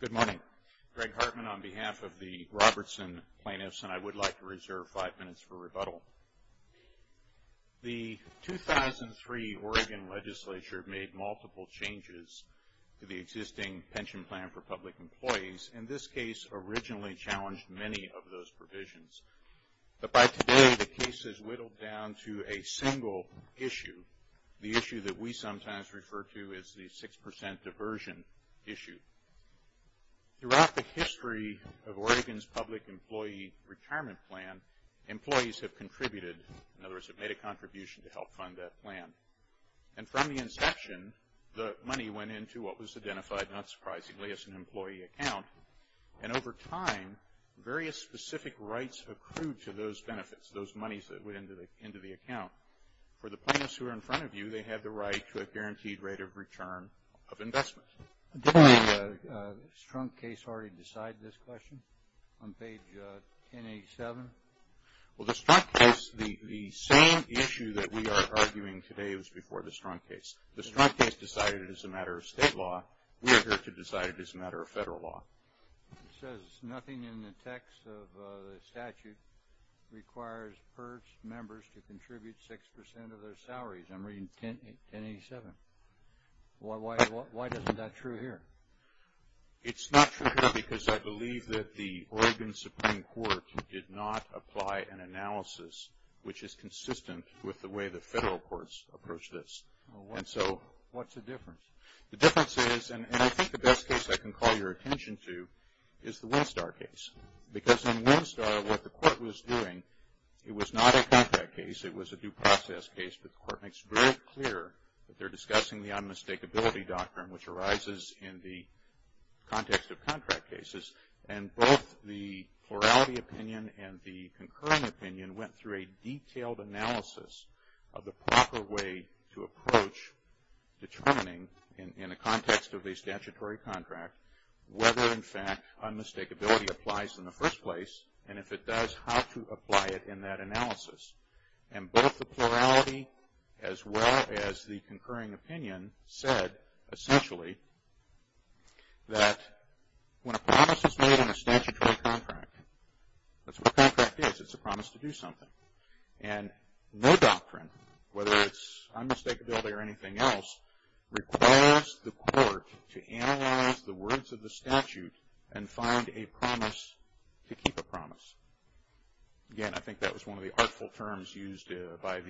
Good morning. Greg Hartman on behalf of the Robertson plaintiffs, and I would like to reserve five minutes for rebuttal. The 2003 Oregon legislature made multiple changes to the existing pension plan for public employees, and this case originally challenged many of those provisions. But by today the case is whittled down to a single issue, the issue that we sometimes refer to as the 6% diversion issue. Throughout the history of Oregon's public employee retirement plan, employees have contributed, in other words, have made a contribution to help fund that plan. And from the inception, the money went into what was identified, not surprisingly, as an employee account. And over time, various specific rights accrued to those benefits, those monies that went into the account. For the plaintiffs who are in front of you, they have the right to a guaranteed rate of return of investment. Did the Strunk case already decide this question on page 1087? Well, the Strunk case, the same issue that we are arguing today was before the Strunk case. The Strunk case decided it as a matter of state law. We are here to decide it as a matter of federal law. It says nothing in the text of the statute requires PIRS members to contribute 6% of their salaries. I'm reading 1087. Why isn't that true here? It's not true here because I believe that the Oregon Supreme Court did not apply an analysis which is consistent with the way the federal courts approach this. What's the difference? The difference is, and I think the best case I can call your attention to, is the Winstar case. Because in Winstar, what the court was doing, it was not a contract case. It was a due process case, but the court makes very clear that they're discussing the unmistakability doctrine which arises in the context of contract cases. And both the plurality opinion and the concurring opinion went through a detailed analysis of the proper way to approach determining, in the context of a statutory contract, whether in fact unmistakability applies in the first place, and if it does, how to apply it in that analysis. And both the plurality as well as the concurring opinion said, essentially, that when a promise is made in a statutory contract, that's what a contract is. It's a promise to do something. And no doctrine, whether it's unmistakability or anything else, requires the court to analyze the words of the statute and find a promise to keep a promise. Again, I think that was one of the artful terms used by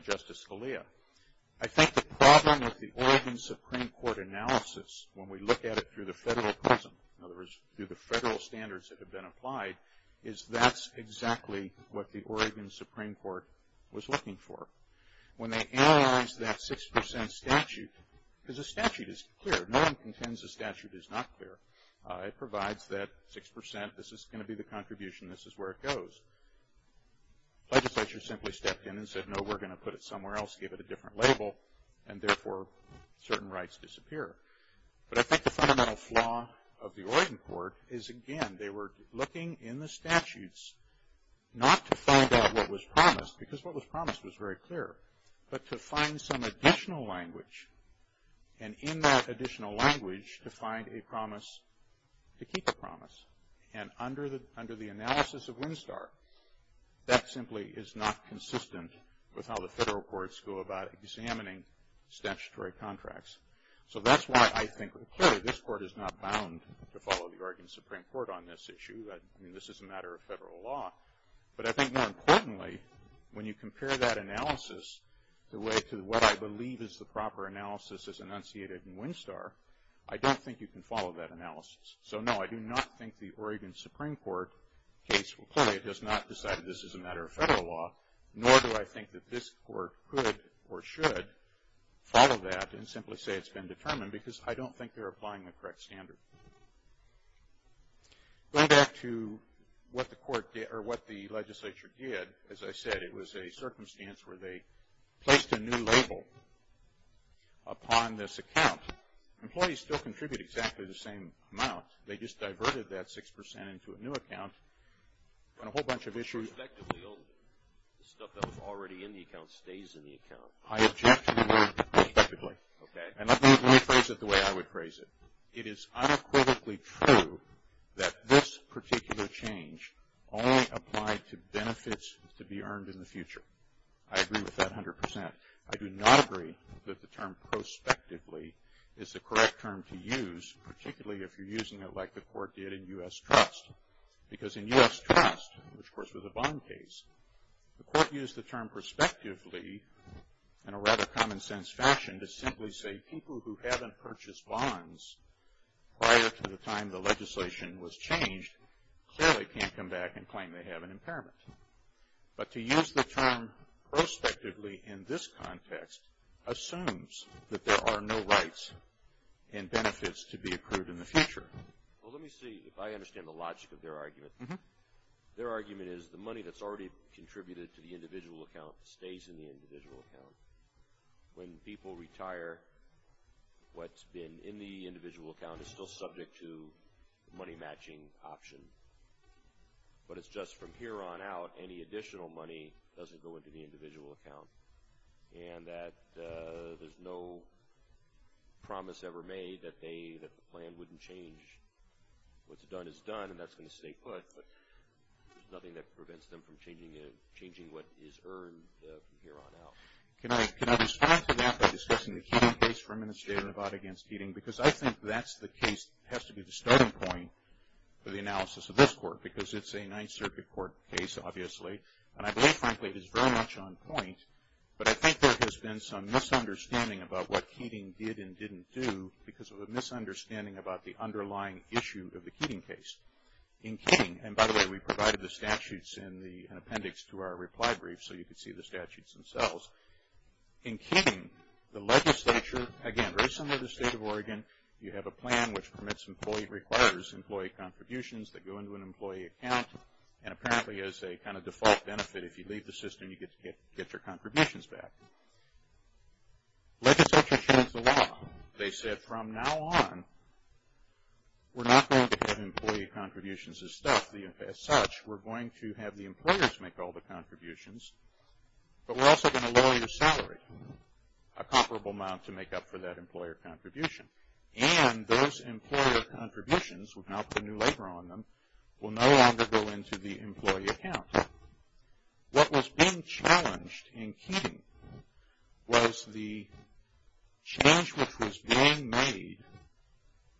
Justice Scalia. I think the problem with the Oregon Supreme Court analysis, when we look at it through the federal prism, in other words, through the federal standards that have been applied, is that's exactly what the Oregon Supreme Court was looking for. When they analyze that 6% statute, because a statute is clear. No one contends a statute is not clear. It provides that 6%, this is going to be the contribution, this is where it goes. Legislature simply stepped in and said, no, we're going to put it somewhere else, give it a different label, and therefore certain rights disappear. But I think the fundamental flaw of the Oregon court is, again, they were looking in the statutes, not to find out what was promised, because what was promised was very clear, but to find some additional language, and in that additional language, to find a promise to keep a promise. And under the analysis of Winstar, that simply is not consistent with how the federal courts go about examining statutory contracts. So that's why I think, clearly, this court is not bound to follow the Oregon Supreme Court on this issue. I mean, this is a matter of federal law. But I think more importantly, when you compare that analysis to what I believe is the proper analysis as enunciated in Winstar, I don't think you can follow that analysis. So no, I do not think the Oregon Supreme Court case will play. It does not decide this is a matter of federal law, nor do I think that this court could or should follow that and simply say it's been determined, because I don't think they're applying the correct standard. Going back to what the court did, or what the legislature did, as I said, it was a circumstance where they placed a new label upon this account. Employees still contribute exactly the same amount. They just diverted that 6% into a new account on a whole bunch of issues. I object to the old stuff that was already in the account stays in the account. I object to the word respectively. Okay. And let me phrase it the way I would phrase it. It is unequivocally true that this particular change only applied to benefits to be earned in the future. I agree with that 100%. I do not agree that the term prospectively is the correct term to use, particularly if you're using it like the court did in U.S. Trust. Because in U.S. Trust, which of course was a bond case, the court used the term prospectively in a rather common sense fashion to simply say people who haven't purchased bonds prior to the time the legislation was changed clearly can't come back and claim they have an impairment. But to use the term prospectively in this context assumes that there are no rights and benefits to be approved in the future. Well, let me see if I understand the logic of their argument. Their argument is the money that's already contributed to the individual account stays in the individual account. When people retire, what's been in the individual account is still subject to the money matching option. But it's just from here on out, any additional money doesn't go into the individual account. And that there's no promise ever made that they, that the plan wouldn't change. What's done is done, and that's going to stay put. There's nothing that prevents them from changing what is earned from here on out. Can I respond to that by discussing the Keating case for Administrative Nevada against Keating? Because I think that's the case that has to be the starting point for the analysis of this court, because it's a Ninth Circuit court case, obviously. And I believe, frankly, it is very much on point. But I think there has been some misunderstanding about what Keating did and didn't do because of a misunderstanding about the underlying issue of the Keating case. In Keating, and by the way, we provided the statutes in the appendix to our reply brief, so you could see the statutes themselves. In Keating, the legislature, again, very similar to the state of Oregon, you have a plan which permits employee requires, employee contributions that go into an employee account, and apparently is a kind of default benefit. If you leave the system, you get to get your contributions back. Legislature changed the law. They said from now on, we're not going to have employee contributions as such. We're going to have the employers make all the contributions, but we're also going to lower your salary, a comparable amount to make up for that employer contribution. And those employer contributions, without the new labor on them, will no longer go into the employee account. What was being made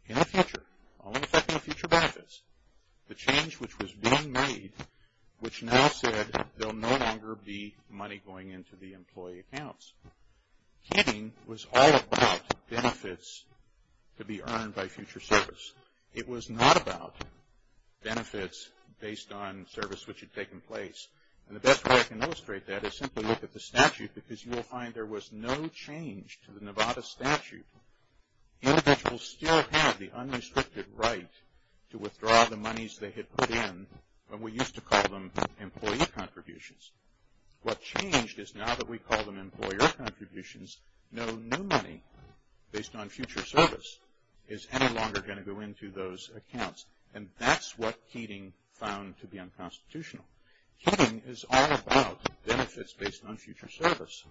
in the future, only affecting the future benefits, the change which was being made, which now said there'll no longer be money going into the employee accounts. Keating was all about benefits to be earned by future service. It was not about benefits based on service which had taken place. And the best way I can illustrate that is simply look at the statute because you will find there was no change to the Nevada statute. Individuals still have the unrestricted right to withdraw the monies they had put in when we used to call them employee contributions. What changed is now that we call them employer contributions, no new money based on future service is any longer going to go into those accounts. And that's what Keating found to be unconstitutional. Keating is all about benefits based on future service.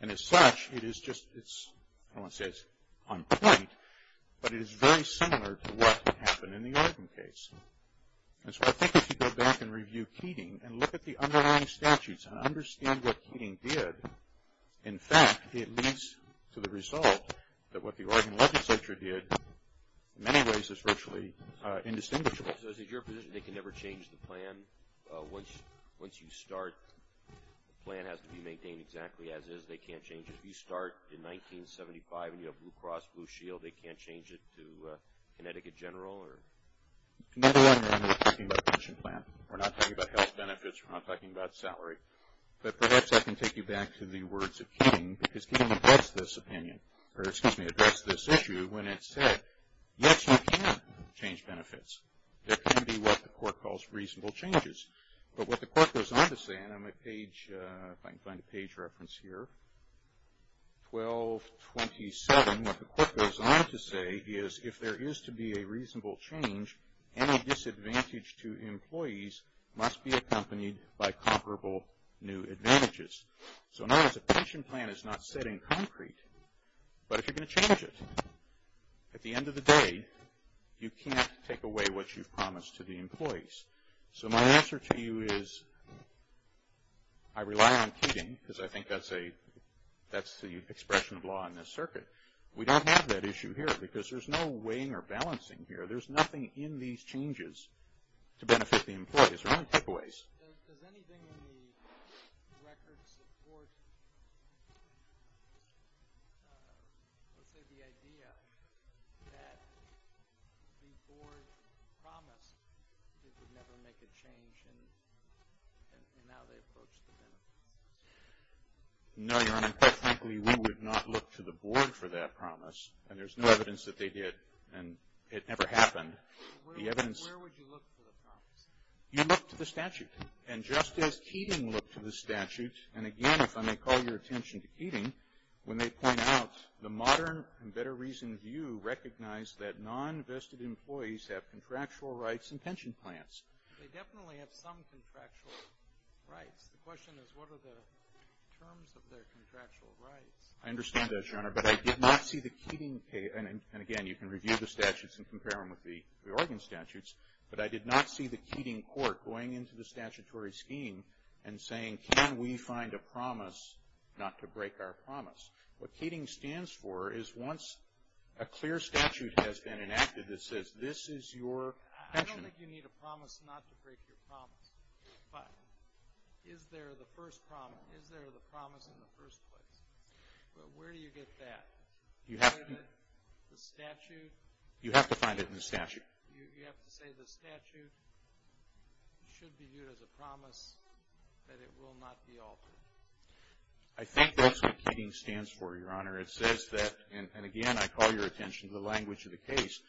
And as such, it is just, I don't want to say it's on point, but it is very similar to what happened in the Oregon case. And so I think if you go back and review Keating and look at the underlying statutes and understand what Keating did, in fact, it leads to the result that what the Oregon legislature did in many ways is virtually indistinguishable. So is it your position they can never change the plan once you start? The plan has to be maintained exactly as is. They can't change it. If you start in 1975 and you have Blue Cross Blue Shield, they can't change it to Connecticut General? Another one, we're talking about pension plan. We're not talking about health benefits. We're not talking about salary. But perhaps I can take you back to the words of Keating because Keating addressed this opinion, or excuse me, addressed this issue when it said yes, you can change benefits. There can be what the court calls reasonable changes. But what the court goes on to say, and on my page, if I can find a page reference here, 1227, what the court goes on to say is if there is to be a reasonable change, any disadvantage to employees must be accompanied by comparable new advantages. So not as a pension plan is not set in concrete, but if you're going to change it, at the end of the day, you can't take away what you've promised to the employees. So my answer to you is, I rely on Keating because I think that's the expression of law in this circuit. We don't have that issue here because there's no weighing or balancing here. There's nothing in these changes to let's say the idea that the board promised it would never make a change, and now they approach the benefits. No, Your Honor. Quite frankly, we would not look to the board for that promise, and there's no evidence that they did, and it never happened. Where would you look for the promise? You look to the statute. And just as Keating looked to the statute, and again, if I may call your attention to Keating, when they point out the modern and better reason view recognized that non-vested employees have contractual rights and pension plans. They definitely have some contractual rights. The question is, what are the terms of their contractual rights? I understand that, Your Honor, but I did not see the Keating, and again, you can review the statutes and compare them with the Oregon statutes, but I did not see the Keating court going into the statutory scheme and saying, can we find a promise not to break our promise? What Keating stands for is once a clear statute has been enacted that says this is your pension. I don't think you need a promise not to break your promise, but is there the promise in the first place? But where do you get that? You have to find it in the statute. You have to say the statute should be viewed as a promise that it will not be altered. I think that's what Keating stands for, Your Honor. It says that, and again, I call your attention to the language of the case,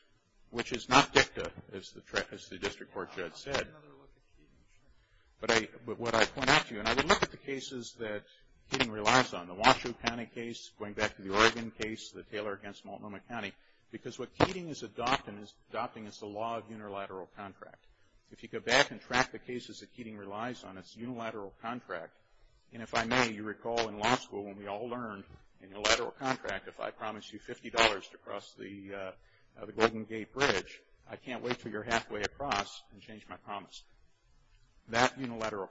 which is not dicta, as the district court judge said. I'll take another look at Keating. But what I point out to you, and I look at the cases that Keating relies on, the Washoe County case, going back to the Oregon case, the Taylor against Multnomah County, because what Keating is adopting is the law of unilateral contract. If you go back and track the cases that Keating relies on, it's unilateral contract. And if I may, you recall in law school when we all learned in unilateral contract, if I promise you $50 to cross the Golden Gate Bridge, I can't wait until you're halfway across and change my promise. That unilateral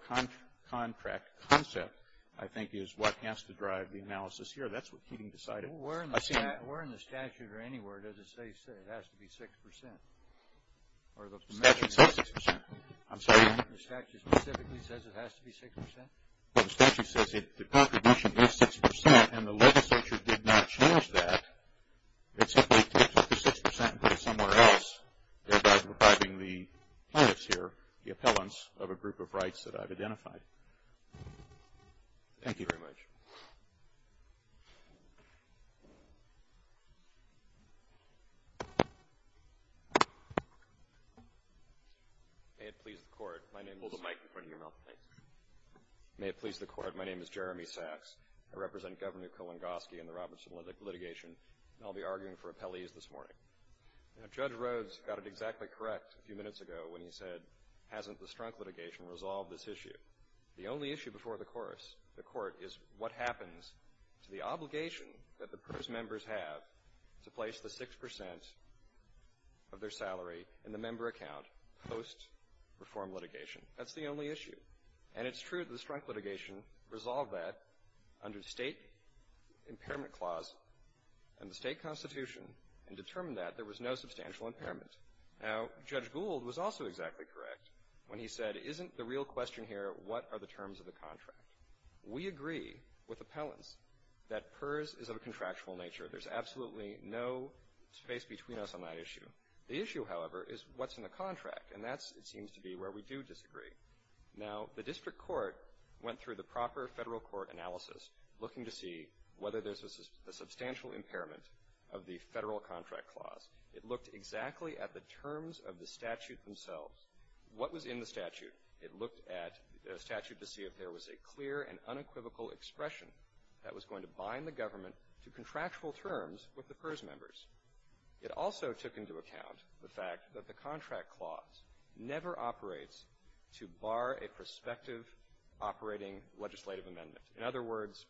contract concept, I think, is what has to drive the analysis here. That's what Keating decided. Where in the statute or anywhere does it say it has to be 6%? The statute says 6%. I'm sorry? The statute specifically says it has to be 6%? Well, the statute says the contribution is 6%, and the legislature did not change that. It simply took the 6% and put it somewhere else, thereby depriving the plaintiffs here the appellants of a group of rights that I've identified. Thank you very much. May it please the Court, my name is... Hold the mic in front of your mouth, please. May it please the Court, my name is Jeremy Sachs. I represent Governor Kowangoski and the Robertson litigation, and I'll be arguing for appellees this morning. Now, Judge Rhodes got it exactly correct a few minutes ago when he said, hasn't the Strunk litigation resolved this issue? PERS members have to place the 6% of their salary in the member account post-reform litigation. That's the only issue. And it's true that the Strunk litigation resolved that under the State Impairment Clause and the State Constitution and determined that there was no substantial impairment. Now, Judge Gould was also exactly correct when he said, isn't the real question here what are the terms of the contract? We agree with appellants that PERS is of a contractual nature. There's absolutely no space between us on that issue. The issue, however, is what's in the contract, and that seems to be where we do disagree. Now, the district court went through the proper federal court analysis looking to see whether there's a substantial impairment of the federal contract clause. It looked exactly at the terms of the statute themselves, what was in the statute. It looked at the statute to see if there was a clear and unequivocal expression that was going to bind the government to contractual terms with the PERS members. It also took into account the fact that the contract clause never operates to bar a prospective operating legislative amendment. In other words,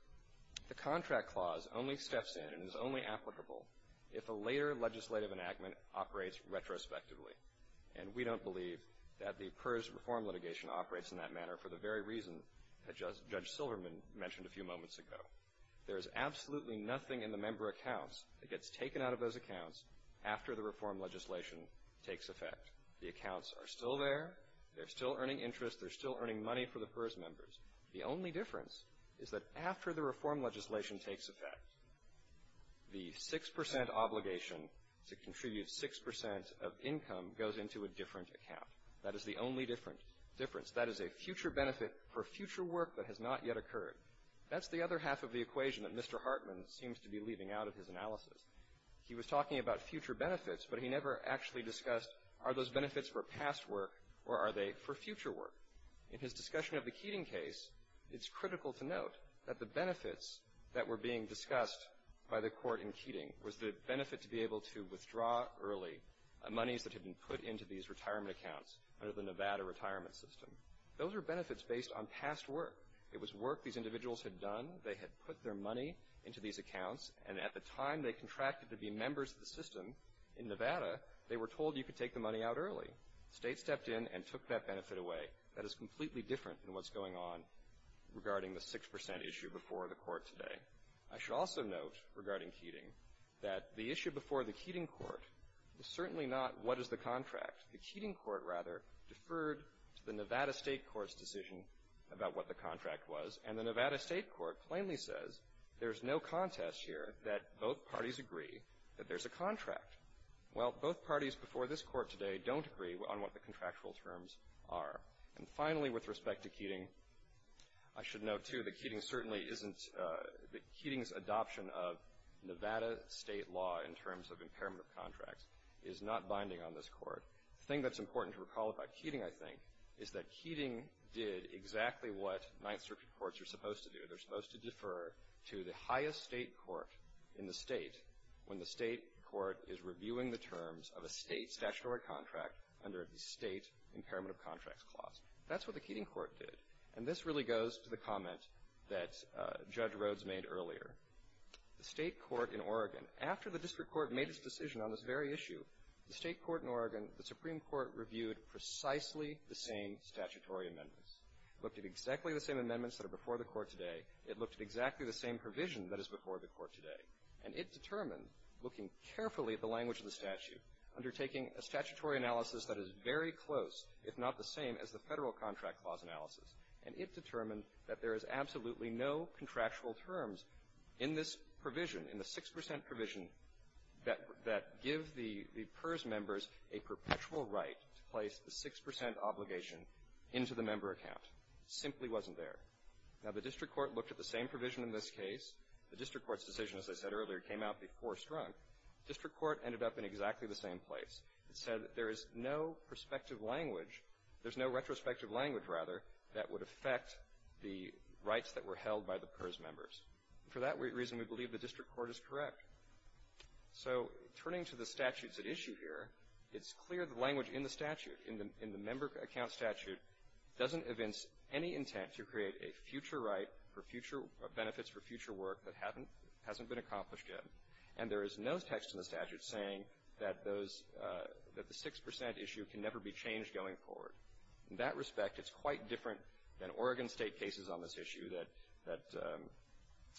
the contract clause only steps in and is only applicable if a later legislative enactment operates retrospectively. And we don't believe that the PERS reform litigation operates in that manner for the very reason that Judge Silverman mentioned a few moments ago. There is absolutely nothing in the member accounts that gets taken out of those accounts after the reform legislation takes effect. The accounts are still there. They're still earning interest. They're still earning money for the PERS members. The only difference is that after the reform legislation takes effect, the 6 percent obligation to contribute 6 percent of income goes into a different account. That is the only difference. That is a future benefit for future work that has not yet occurred. That's the other half of the equation that Mr. Hartman seems to be leaving out of his analysis. He was talking about future benefits, but he never actually discussed are those benefits for past work or are they for future work. In his discussion of the Keating case, it's critical to note that the benefits that were being early, monies that had been put into these retirement accounts under the Nevada retirement system, those are benefits based on past work. It was work these individuals had done. They had put their money into these accounts, and at the time they contracted to be members of the system in Nevada, they were told you could take the money out early. The state stepped in and took that benefit away. That is completely different than what's going on regarding the 6 percent issue before the court today. I should also note regarding Keating that the issue before the Keating court is certainly not what is the contract. The Keating court, rather, deferred to the Nevada state court's decision about what the contract was, and the Nevada state court plainly says there's no contest here that both parties agree that there's a contract. Well, both parties before this court today don't agree on what the contractual terms are. And finally, with respect to Keating, I should note, too, that Keating's adoption of Nevada state law in terms of impairment of contracts is not binding on this court. The thing that's important to recall about Keating, I think, is that Keating did exactly what Ninth Circuit courts are supposed to do. They're supposed to defer to the highest state court in the state when the state court is reviewing the terms of a state That's what the Keating court did. And this really goes to the comment that Judge Rhodes made earlier. The state court in Oregon, after the district court made its decision on this very issue, the state court in Oregon, the Supreme Court, reviewed precisely the same statutory amendments, looked at exactly the same amendments that are before the court today. It looked at exactly the same provision that is before the court today. And it determined, looking carefully at the language of the statute, undertaking a statutory analysis that is very close, if not the same, as the Federal Contract Clause analysis. And it determined that there is absolutely no contractual terms in this provision, in the 6 percent provision that give the PERS members a perpetual right to place the 6 percent obligation into the member account. It simply wasn't there. Now, the district court looked at the same provision in this case. The district court's decision, as I said earlier, came out before Strunk. District court ended up in exactly the same place. It said that there is no prospective language, there's no retrospective language, rather, that would affect the rights that were held by the PERS members. For that reason, we believe the district court is correct. So turning to the statutes at issue here, it's clear the language in the statute, in the member account statute, doesn't evince any intent to create a future right for future benefits for future work that hasn't been accomplished yet. And there is no text in the statute saying that the 6 percent issue can never be changed going forward. In that respect, it's quite different than Oregon State cases on this issue that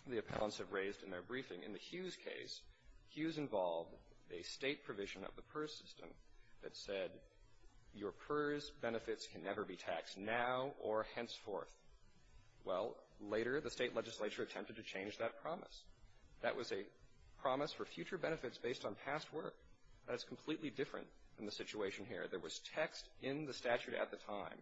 the appellants have raised in their briefing. In the Hughes case, Hughes involved a State provision of the PERS system that said, your PERS benefits can never be taxed now or henceforth. Well, later, the State legislature attempted to change that promise. That was a promise for future benefits based on past work. That's completely different from the situation here. There was text in the statute at the time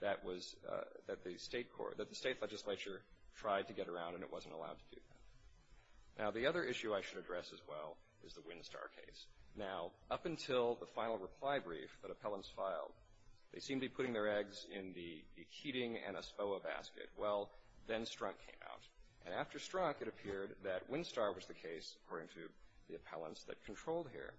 that the State legislature tried to get around, and it wasn't allowed to do that. Now, the other issue I should address as well is the Winstar case. Now, up until the final reply brief that appellants filed, they seemed to be putting their eggs in the heating and a SPOA basket. Well, then Strunk came out. And after Strunk, it appeared that Winstar was the case, according to the appellants that controlled here.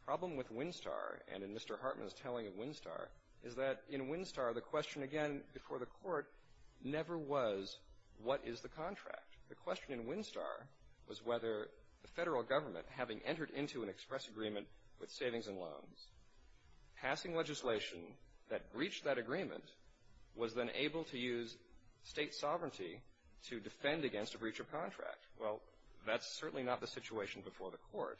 The problem with Winstar, and in Mr. Hartman's telling of Winstar, is that in Winstar, the question, again, before the Court, never was, what is the contract? The question in Winstar was whether the Federal Government, having entered into an express agreement with Savings and Loans, passing legislation that breached that agreement, was then able to use State sovereignty to defend against a breach of contract. Well, that's certainly not the situation before the Court.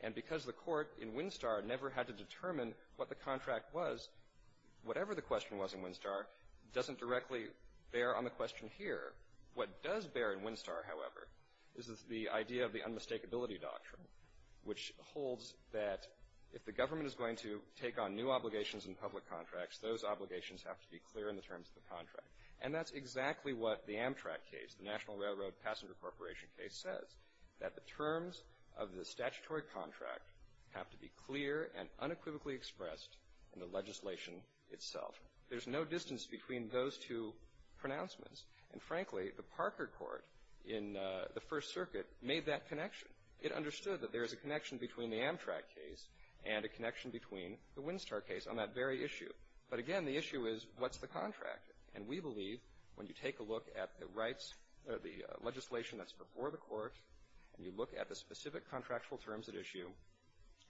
And because the Court in Winstar never had to determine what the contract was, whatever the question was in Winstar doesn't directly bear on the question here. What does bear in Winstar, however, is the idea of the unmistakability doctrine, which holds that if the government is going to take on new obligations in public contracts, those obligations have to be clear in the terms of the contract. And that's exactly what the Amtrak case, the National Railroad Passenger Corporation case, says, that the terms of the statutory contract have to be clear and unequivocally expressed in the legislation itself. There's no distance between those two pronouncements. And frankly, the Parker Court in the First Circuit made that connection. It understood that there is a connection between the Amtrak case and a connection between the Winstar case on that very issue. But again, the issue is what's the contract? And we believe when you take a look at the rights or the legislation that's before the Court and you look at the specific contractual terms at issue,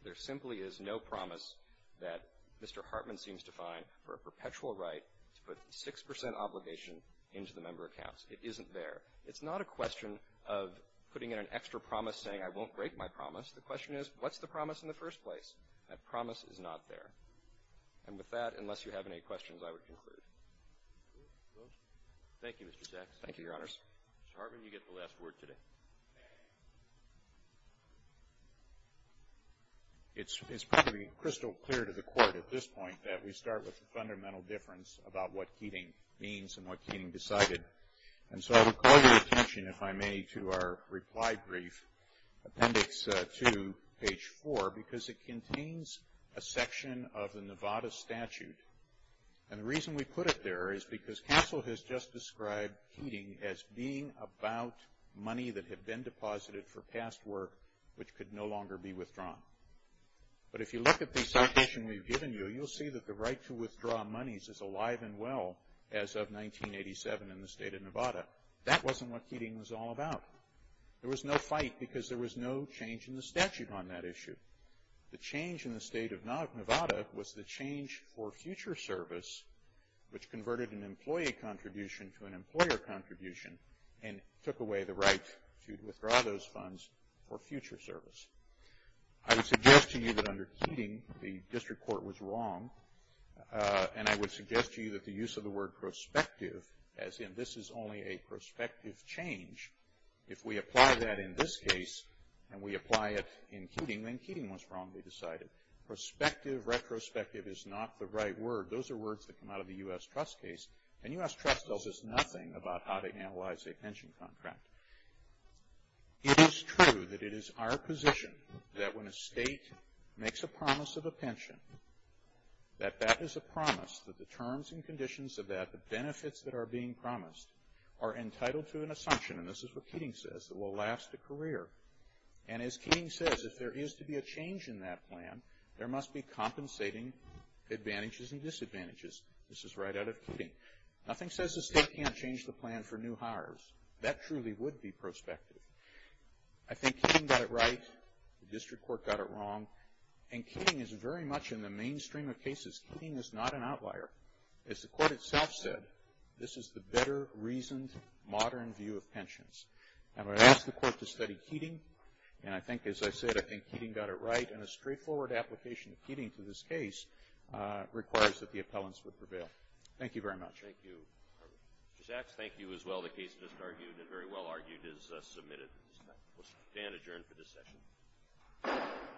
there simply is no promise that Mr. Hartman seems to find for a perpetual right to put a 6 percent obligation into the member accounts. It isn't there. It's not a question of putting in an extra promise saying I won't break my promise. The question is what's the promise in the first place? That promise is not there. And with that, unless you have any questions, I would conclude. Roberts. Thank you, Mr. Sachs. Thank you, Your Honors. Mr. Hartman, you get the last word today. It's pretty crystal clear to the Court at this point that we start with the fundamental difference about what Keating means and what Keating decided. And so I would call your attention, if I may, to our reply brief, appendix 2, page 4, because it contains a section of the Nevada statute. And the reason we put it there is because Castle has just described Keating as being about money that had been deposited for past work which could no longer be withdrawn. But if you look at the citation we've given you, you'll see that the right to withdraw monies is alive and well as of 1987 in the state of Nevada. That wasn't what Keating was all about. There was no fight because there was no change in the statute on that issue. The change in the state of Nevada was the change for future service, which converted an employee contribution to an employer contribution and took away the right to withdraw those funds for future service. I would suggest to you that under Keating, the district court was wrong. And I would suggest to you that the use of the word prospective, as in this is only a prospective change, if we apply that in this case and we apply it in Keating, then Keating was wrong, they decided. Prospective, retrospective is not the right word. Those are words that come out of the U.S. Trust case. And U.S. Trust tells us nothing about how to analyze a pension contract. It is true that it is our position that when a state makes a promise of a pension, that that is a promise, that the terms and conditions of that, the benefits that are being promised, are entitled to an assumption, and this is what Keating says, that will last a career. And as Keating says, if there is to be a change in that plan, there must be compensating advantages and disadvantages. This is right out of Keating. Nothing says the state can't change the plan for new hires. That truly would be prospective. I think Keating got it right, the district court got it wrong, and Keating is very much in the mainstream of cases. Keating is not an outlier. As the court itself said, this is the better reasoned modern view of pensions. And I would ask the court to study Keating, and I think, as I said, I think Keating got it right, and a straightforward application of Keating to this case requires that the appellants would prevail. Thank you very much. Thank you. Mr. Sachs, thank you as well. The case just argued and very well argued is submitted. We'll stand adjourned for this session. Thank you.